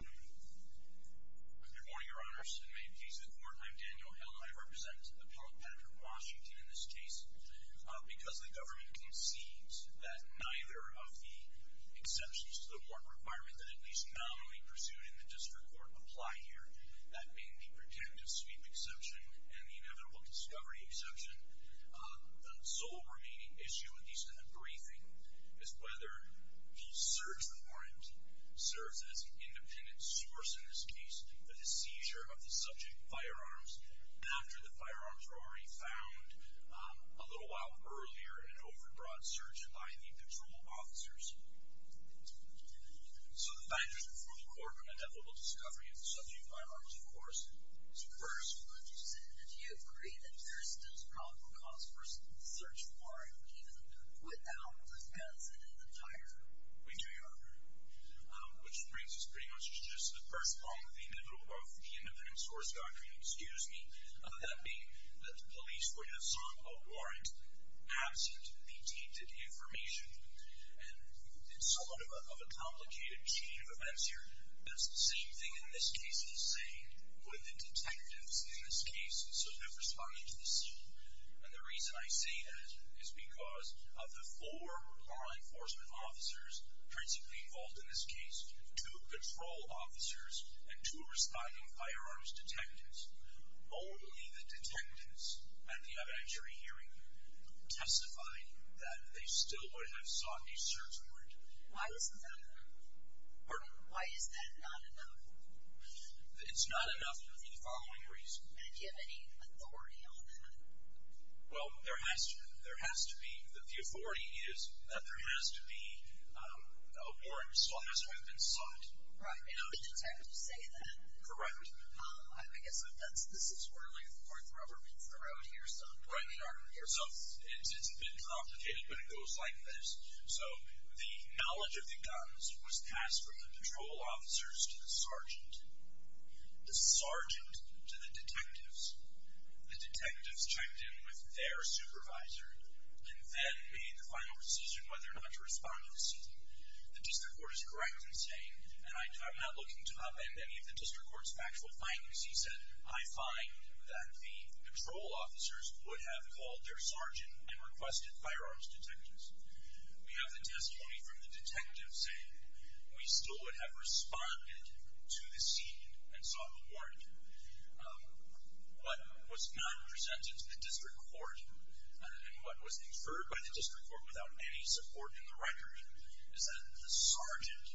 Good morning, Your Honors. I'm Daniel Hill. I represent Appellate Patrick Washington in this case. Because the government concedes that neither of the exceptions to the warrant requirement that at least nominally pursued in the District Court apply here, that being the pretentious sweep exception and the inevitable discovery exception, the sole remaining issue, at least in the briefing, is whether the search warrant serves as an independent source in this case, the seizure of the subject firearms, after the firearms were already found a little while earlier in an overbroad search by the patrol officers. So the fact is that for the court, an inevitable discovery of the subject firearms, of course, is a first. So would you say that you agree that there is still a probable cause for a search warrant even without the consent of the tiger? We do, Your Honor. Which brings us pretty much to just the first part of the inevitable both independent source doctrine, excuse me, of that being that the police, when they saw a warrant absent the tainted information, and it's somewhat of a complicated chain of detectives in this case, and so they're responding to the scene. And the reason I say that is because of the four law enforcement officers principally involved in this case, two patrol officers and two responding firearms detectives, only the detectives at the evidentiary hearing testify that they still would have sought a search warrant. Why isn't that enough? Pardon? Why is that not enough? It's not enough for the following reason. And do you have any authority on that? Well, there has to be. The authority is that there has to be a warrant, so long as we've been sought. Right. And are the detectives able to say that? Correct. I guess this is where the rubber meets the road here. Right, Your Honor. So it's a bit complicated, but it goes like this. So the knowledge of the patrol officers to the sergeant, the sergeant to the detectives, the detectives checked in with their supervisor and then made the final decision whether or not to respond to the scene. The district court is correct in saying, and I'm not looking to upend any of the district court's factual findings, he said, I find that the patrol officers would have called their sergeant and requested firearms detectives. We have the testimony from the detectives saying we still would have responded to the scene and sought a warrant. What was not presented to the district court and what was inferred by the district court without any support in the record is that the sergeant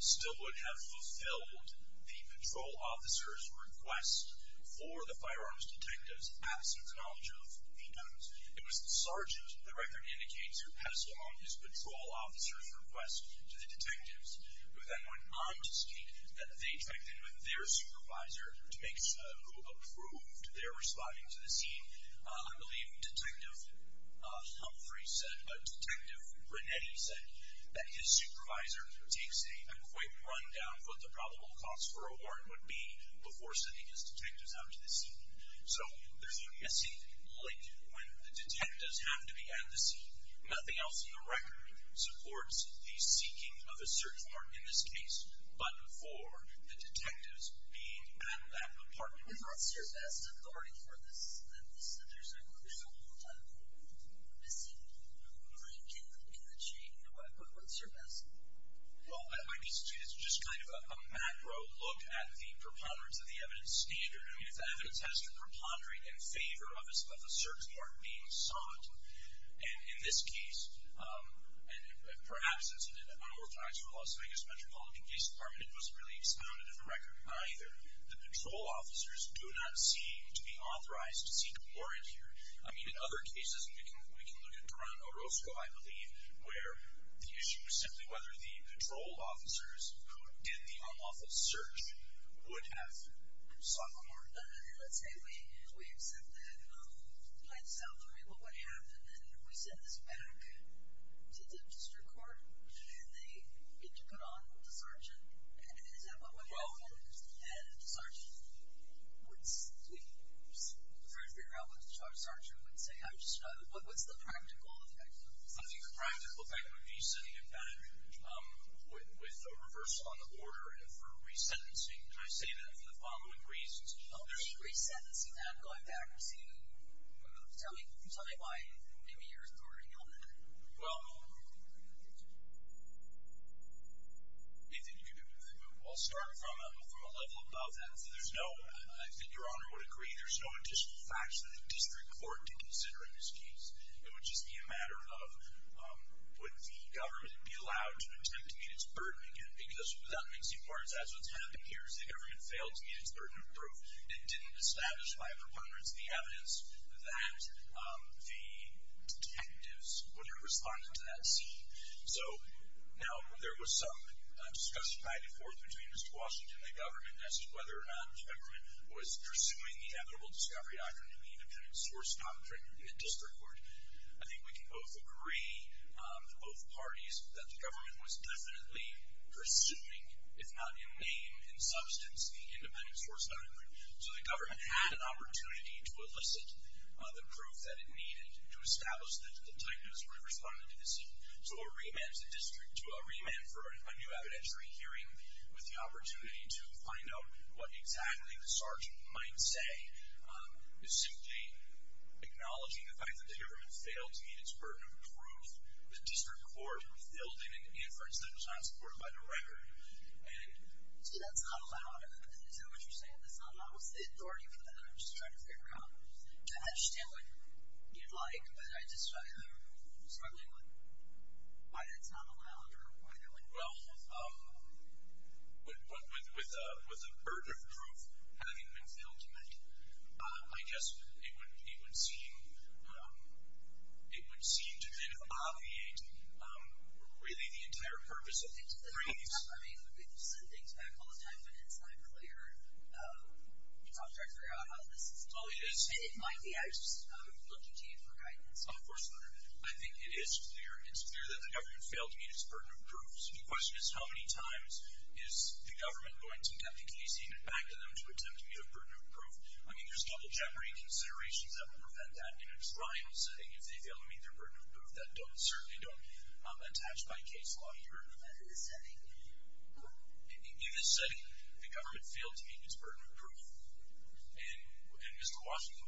still would have fulfilled the patrol officer's request for the firearms detectives. It was the sergeant, the record indicates, who passed along his patrol officer's request to the detectives who then went on to state that they checked in with their supervisor to make sure who approved their responding to the scene. I believe Detective Humphrey said, but Detective Renetti said that his supervisor takes a quick rundown of what the probable cost for a warrant would be before sending his detectives out to the scene. So, there's a missing link when the detectives have to be at the scene. Nothing else in the record supports the seeking of a search warrant in this case, but for the detectives being at that apartment block. What's your best authority for this? There's a lot of missing links in the chain. What's your best? Well, I guess it's just kind of a macro look at the preponderance of the evidence standard. I mean, if the evidence has to preponderate in favor of a search warrant being sought, in this case, and perhaps it's an unorthodox for Las Vegas Metropolitan Police Department, it doesn't really sound in the record either. The patrol officers do not seem to be authorized to seek a warrant here. I mean, in other cases, we can look at Toron Orozco, I believe, where the issue is simply whether the patrol officers who did the unlawful search would have sought a warrant. Let's say we accept that by itself. I mean, what would happen if we sent this back to the district court and they get to put on the sergeant? Is that what would happen? Well, And the sergeant would simply, for us to figure out what the sergeant would say. What's the practical effect of this? I think the practical effect would be sending it back with a reversal on the order and for re-sentencing. And I say that for the following reasons. What do you mean, re-sentencing? I'm going back to, tell me, tell me why maybe you're reporting on that. Well, Nathan, you can move. I'll start from a level above that. There's no, I think Your Honor would agree, there's no additional facts that the district court did consider in this case. It would just be a matter of, would the government be allowed to attempt to meet its burden again? Because that makes two parts. That's what's happened here is the government failed to meet its burden of proof. It didn't establish by a preponderance the evidence that the detectives would have responded to that scene. So, now, there was some discussion back and forth between Mr. Washington and the government as to whether the government was pursuing the equitable discovery doctrine and the independent source doctrine in district court. I think we can both agree, both parties, that the government was pursuing, if not in name and substance, the independent source doctrine. So, the government had an opportunity to elicit the proof that it needed to establish that the detectives would have responded to the scene. So, a remand to the district, a remand for a new evidentiary hearing with the opportunity to find out what exactly the sergeant might say is simply acknowledging the fact that the government failed to meet its burden of the district court with the building and the inference that it was not supported by the record. So, that's not allowed? Is that what you're saying? That's not allowed? What's the authority for that? I'm just trying to figure out. I understand what you'd like, but I'm just struggling with why that's not allowed or why that wouldn't work. With the burden of proof having been failed to meet, I guess it would seem to kind of obviate, really, the entire purpose of the briefs. I mean, you said things back all the time, but it's not clear. You talked earlier about how this isn't clear. Oh, it is. And it might be. I was just looking to you for guidance. Oh, of course not. I think it is clear that the government failed to meet its burden of proof. So, the question is, how many times is the government going to get the case handed back to them to attempt to meet a burden of proof? I mean, there's double jeopardy considerations that would prevent that. In its primal setting, if they fail to meet their burden of proof, that don't, certainly don't attach by case law here in the federal setting. In this setting, the government failed to meet its burden of proof, and Mr. Washington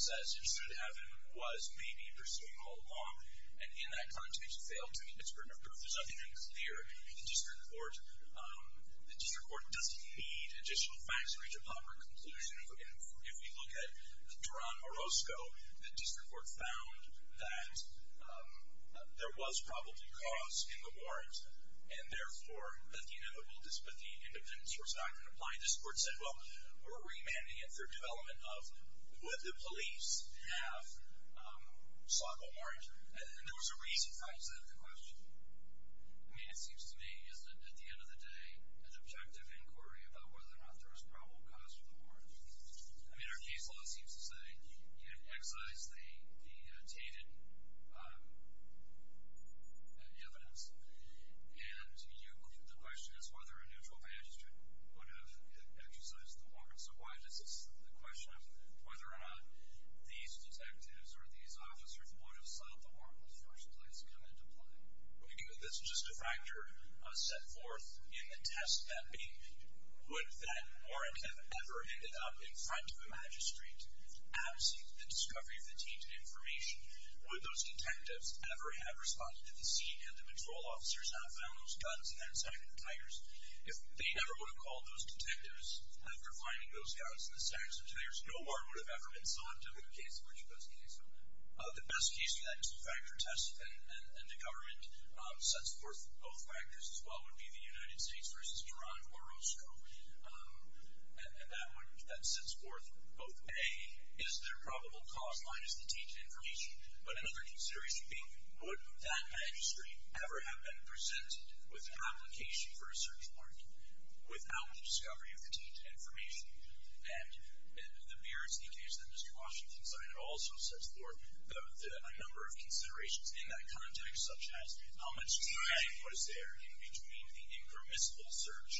says it should have been, was, may be, pursuing all along. And in that context, it failed to meet its burden of proof. There's nothing unclear in the district court. The district court doesn't need additional facts to reach a proper conclusion. If we look at Duran-Morosco, the district court found that there was probably cause in the warrant, and therefore, that the independence was not going to apply. And the district court said, well, we're remanding it for development of, would the police have sought the warrant? And there was a reason for that. Is that a good question? I mean, it seems to me, isn't it, at the end of the day, an objective inquiry about whether or not there was probable cause for the warrant? I mean, our case law seems to say, you know, excise the tainted evidence. And the question is whether a neutral magistrate would have exercised the warrant. So why does this, the question of whether or not these detectives or these officers would have sought the warrant in the first place kind of decline? Well, you know, this is just a factor set forth in the test that be. Would that warrant have ever ended up in front of a magistrate, absent the discovery of the tainted information? Would those detectives ever have responded to the scene, had the patrol officers not found those guns and then sighted the Tigers? If they never would have called those detectives after finding those guns in the Sanctuary, there's no warrant would have ever been sought in the case in which it was cased on them. The best case for that is the factor test, and the government sets forth both factors as well, would be the United States versus Toronto or Roscoe. And that one, that sets forth both, A, is there probable cause minus the tainted information, but another consideration being, would that magistrate ever have been present with an application for a search warrant without the discovery of the tainted information? And the BRT case, the Mr. Washington's line, also sets forth a number of considerations in that context, such as how much time was there in between the impermissible search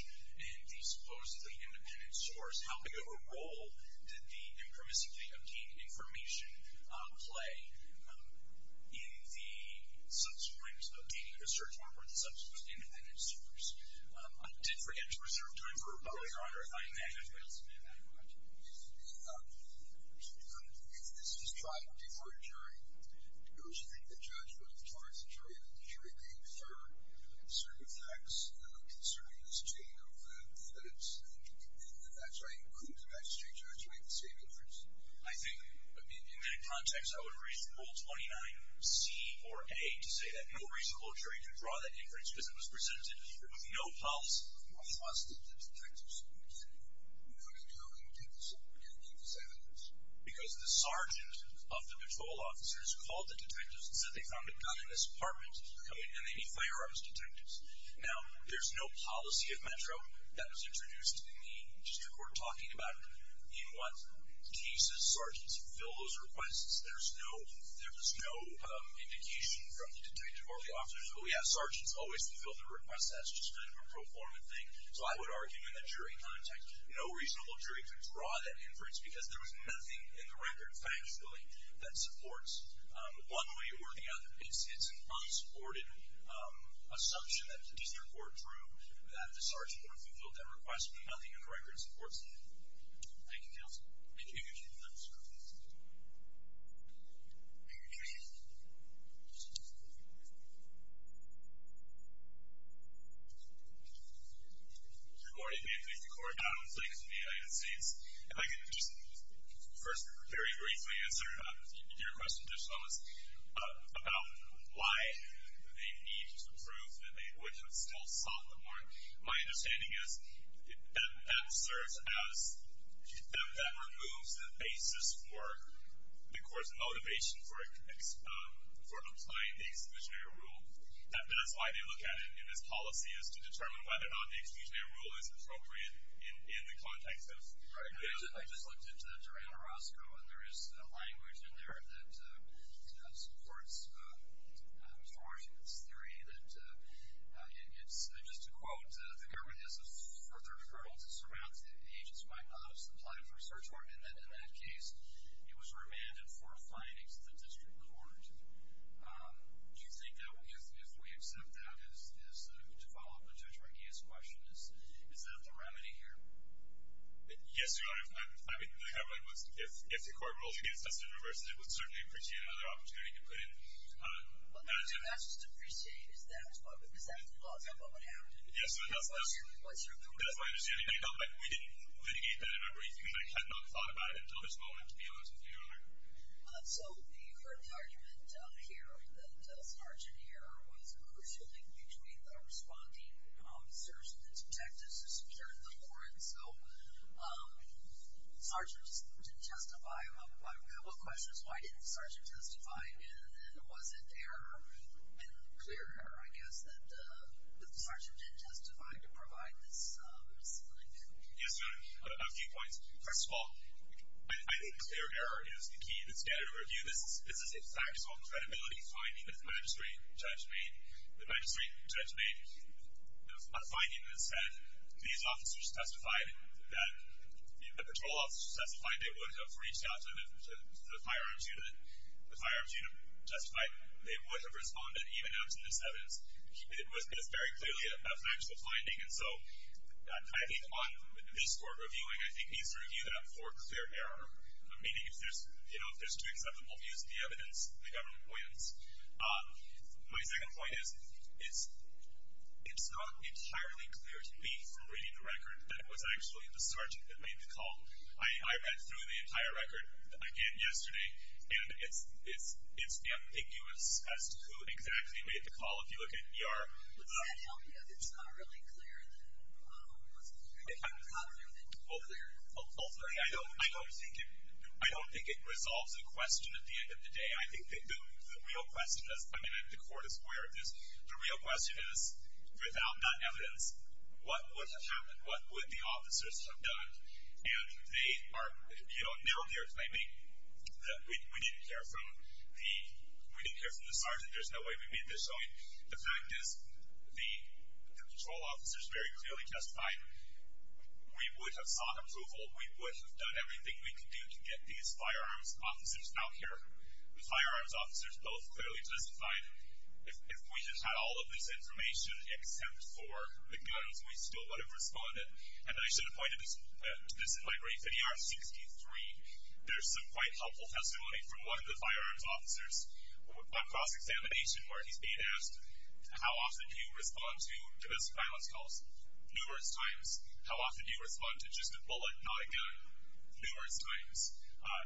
and the supposedly independent source? How big of a role did the impermissibly obtained information play in the subsequent obtaining of a search warrant for the subsequent independent source? I did forget to reserve time for a question. Your Honor, if I may. If this is trying to defer a jury, it was the judge who authorized the jury, and the jury may defer certain facts concerning this chain of evidence, and that's why it includes a magistrate judge who made the same inference. I think, in that context, I would raise Rule 29C or A to say that no reasonable jury could draw that inference because it was presented with no pulse. Why wasn't it the detectives who made the inference? I mean, how can you do this? How can you do this evidence? Because the sergeant of the patrol officers called the detectives and said they found a gun in this apartment, and they need firearms detectives. Now, there's no policy of Metro that was introduced in the district we're talking about in what cases sergeants fill those requests. There was no indication from the detective or the officers, but we have sergeants always fill the request. That's just kind of a pro forma thing. So I would argue in the jury context, no reasonable jury could draw that inference because there was nothing in the record, factually, that supports one way or the other. It's an unsupported assumption that the district court drew that the sergeant would have filled that request, but nothing in the record supports the jury. Thank you, counsel. Thank you. Thank you, sir. Thank you, Chief. Good morning, ma'am. Thank you for calling out on the plaintiffs of the United States. If I can just first very briefly answer your question just almost. About why they need to prove that they would have still sought the warrant. My understanding is that serves as, that removes the basis for the court's motivation for applying the exclusionary rule. That's why they look at it in this policy is to determine whether or not the exclusionary rule is appropriate in the context of. I just looked into that during Orozco, and there is a language in there that supports Mr. Marshall's theory that it's, just to quote, the government has a further hurdle to surmount. The agents might not have supplied for search warrant. In that case, it was remanded for finding to the district with warrant. Do you think that if we accept that as, to follow up on Judge Reggie's question, is that the remedy here? Yes, Your Honor. I mean, the headline was, if the court rules against us in reverse, it would certainly appreciate another opportunity to put in. Well, that's just to appreciate. Is that what would happen? Yes, that's my understanding. We didn't litigate that in our brief. We might have not thought about it until this moment, to be honest with you, Your Honor. So you heard the argument here that Sargent here was crucial in between the responding search and the detectives to secure the warrant. So Sargent didn't testify. What questions? Why didn't Sargent testify? And was it error, and clear error, I guess, that Sargent didn't testify to provide this solution? Yes, Your Honor. A few points. First of all, I think clear error is the key that's there to review this. This is a factual and credibility finding that the magistrate judge made. A finding that said, these officers testified that the patrol officers testified they would have reached out to the firearms unit. The firearms unit testified they would have responded even after this evidence. It was very clearly a factual finding. And so I think on this court reviewing, I think needs to review that for clear error, meaning if there's two acceptable views of the evidence, the government wins. My second point is it's not entirely clear to me from reading the record that it was actually the Sargent that made the call. I read through the entire record again yesterday, and it's ambiguous as to who exactly made the call. If you look at ER. Would that help you if it's not really clear that it was the Sargent? How do you make it more clear? Ultimately, I don't think it resolves the question at the end of the day. I think the real question is, I mean, the court is aware of this, the real question is, without that evidence, what would have happened? What would the officers have done? And they are now here claiming that we didn't care from the Sargent. There's no way we made this showing. The fact is the patrol officers very clearly testified we would have sought approval. We would have done everything we could do to get these firearms officers out here, the firearms officers both clearly testified. If we just had all of this information except for McDonough's voice, we still would have responded. And I should point to this in my brief. In ER 63, there's some quite helpful testimony from one of the firearms officers on cross-examination where he's being asked, how often do you respond to domestic violence calls? Numerous times. How often do you respond to just a bullet, not a gun? Numerous times.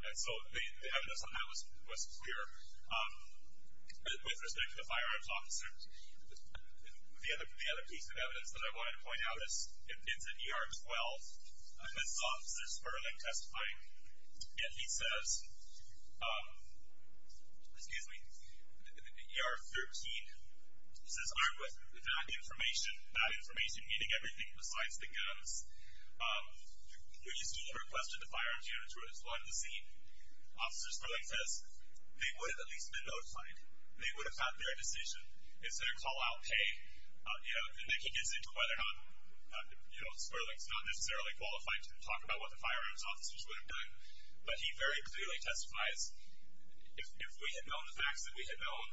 And so the evidence on that was clear. With respect to the firearms officer, the other piece of evidence that I wanted to point out is in ER 12, this officer's further testifying. And he says, excuse me, in ER 13, he says, I'm with that information, that information meaning everything besides the guns. We still requested the firearms unit to respond to the scene. Officer Sperling says, they would have at least been notified. They would have had their decision. It's their call-out, hey. And then he gets into whether or not Sperling's not necessarily qualified to talk about what the firearms officers would have done. But he very clearly testified. If we had known the facts, if we had known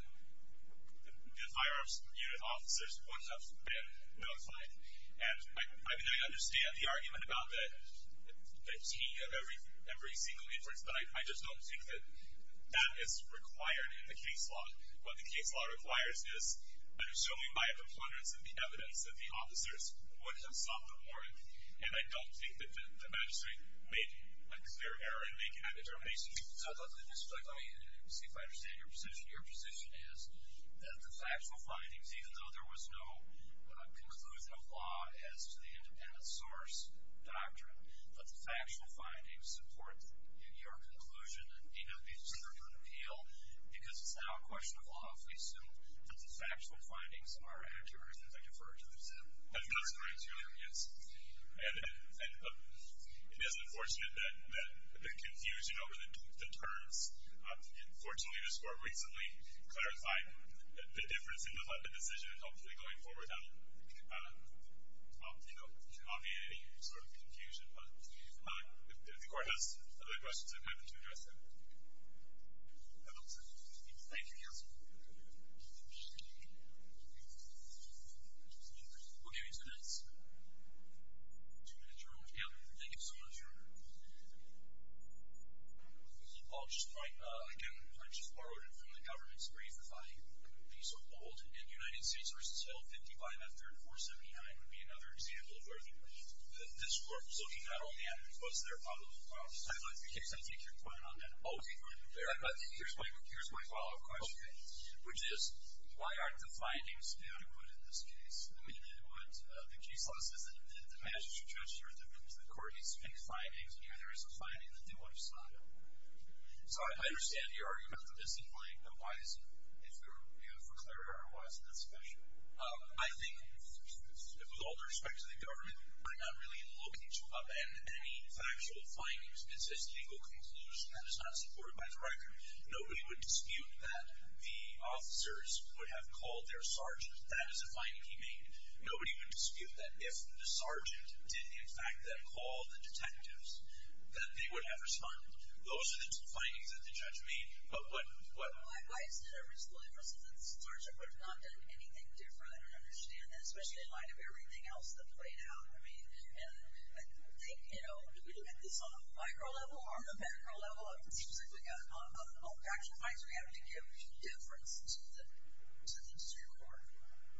the firearms unit officers would have been notified. I mean, I understand the argument about the T of every single inference, but I just don't think that that is required in the case law. What the case law requires is a showing by the plunderers of the evidence that the officers would have sought the warrant. And I don't think that the magistrate made a clear error in making that determination. So I thought that this was like, let me see if I understand your position. Your position is that the factual findings, even though there was no conclusion of law as to the independent source doctrine, that the factual findings support your conclusion, and need not be considered for appeal because it's not a question of law if we assume that the factual findings are accurate as I refer to them. That's correct, yes. And it is unfortunate that the confusion over the terms, unfortunately this court recently clarified the difference in the decision and hopefully going forward that will not be a sort of confusion. But if the court has other questions, I'd be happy to address them. Thank you. Thank you, counsel. We'll give you two minutes. Two minutes, your honor. Thank you so much, your honor. I'll just point, again, I just borrowed it from the government's brief. If I can be so bold, in the United States versus Hill 55 after 479 would be another example of where this court was looking at all the evidence. Was there a follow-up question? I'd like to take your point on that. Okay. Here's my follow-up question. Okay. Which is, why aren't the findings adequate in this case? I mean, what the case law says is that the magistrate judge or the court needs to make findings. Here there is a finding that they want to stop. So I understand your argument for this complaint, but why is it, if you have it clarified, why is it that special? I think, with all due respect to the government, I'm not really in the location about that. And any factual findings, consistent legal conclusions, that is not supported by the record. Nobody would dispute that the officers would have called their sergeant. That is a finding he made. Nobody would dispute that if the sergeant did, in fact, then call the detectives, that they would have responded. Those are the two findings that the judge made. But what? Why is there a reasonableness in this? The sergeant would have not done anything different. I don't understand that, especially in light of everything else that played out. I mean, and I think, you know, do we look at this on a micro level or on a macro level? It seems like on factual findings we have to give difference to the Supreme Court.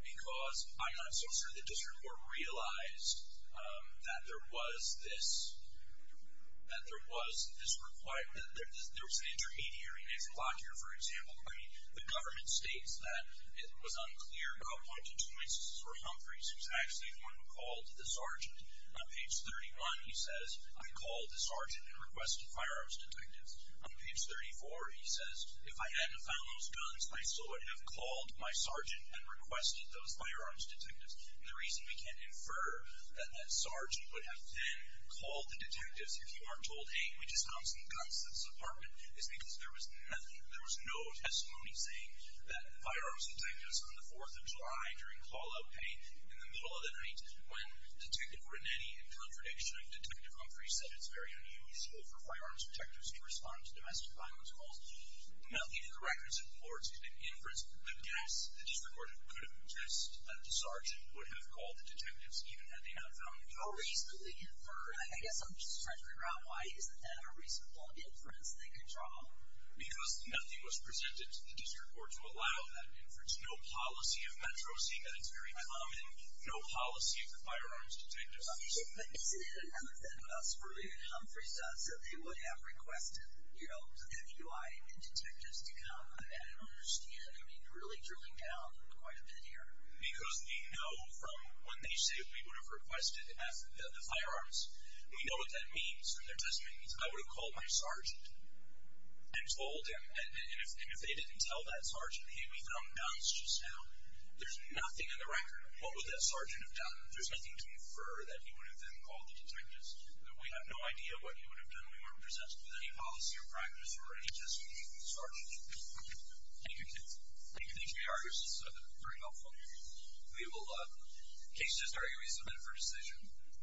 Because I'm not so sure the district court realized that there was this requirement. There was an intermediary, Nathan Lockyer, for example. I mean, the government states that it was unclear. There are a bunch of choices for Humphreys, who's actually the one who called the sergeant. On page 31, he says, I called the sergeant and requested firearms detectives. On page 34, he says, if I hadn't found those guns, I still would have called my sergeant and requested those firearms detectives. The reason we can't infer that that sergeant would have then called the detectives, if you aren't told, hey, we just found some guns in this apartment, is because there was nothing, there was no testimony saying that firearms detectives on the 4th of July during call-out paid. In the middle of the night, when Detective Renetti, in contradiction of Detective Humphrey, said it's very unusual for firearms detectives to respond to domestic violence calls, now, even the records and reports didn't inference, but I guess the district court couldn't have guessed that the sergeant would have called the detectives, even had they not found them. No reason to infer, and I guess I'm just trying to figure out why isn't that a reasonable inference they could draw? Because nothing was presented to the district court to allow that inference. No policy of Metro C, that it's very common. No policy for firearms detectives. OK, but is it an MFN, that's really what Humphreys does, is that he would have requested, you know, the FUI and detectives to come and understand, I mean, really drilling down quite a bit here. Because we know from when they say we would have requested the firearms, we know what that means in their testimony. I would have called my sergeant and told him, and if they didn't tell that sergeant, hey, we found guns just now. There's nothing in the record of what would that sergeant have done. There's nothing to infer that he would have then called the detectives. We have no idea what he would have done if he weren't presented with any policy or practice or any testimony from the sergeant. Thank you. Thank you. Thank you. This is very helpful. We will, in case you disagree, we submit it for decision.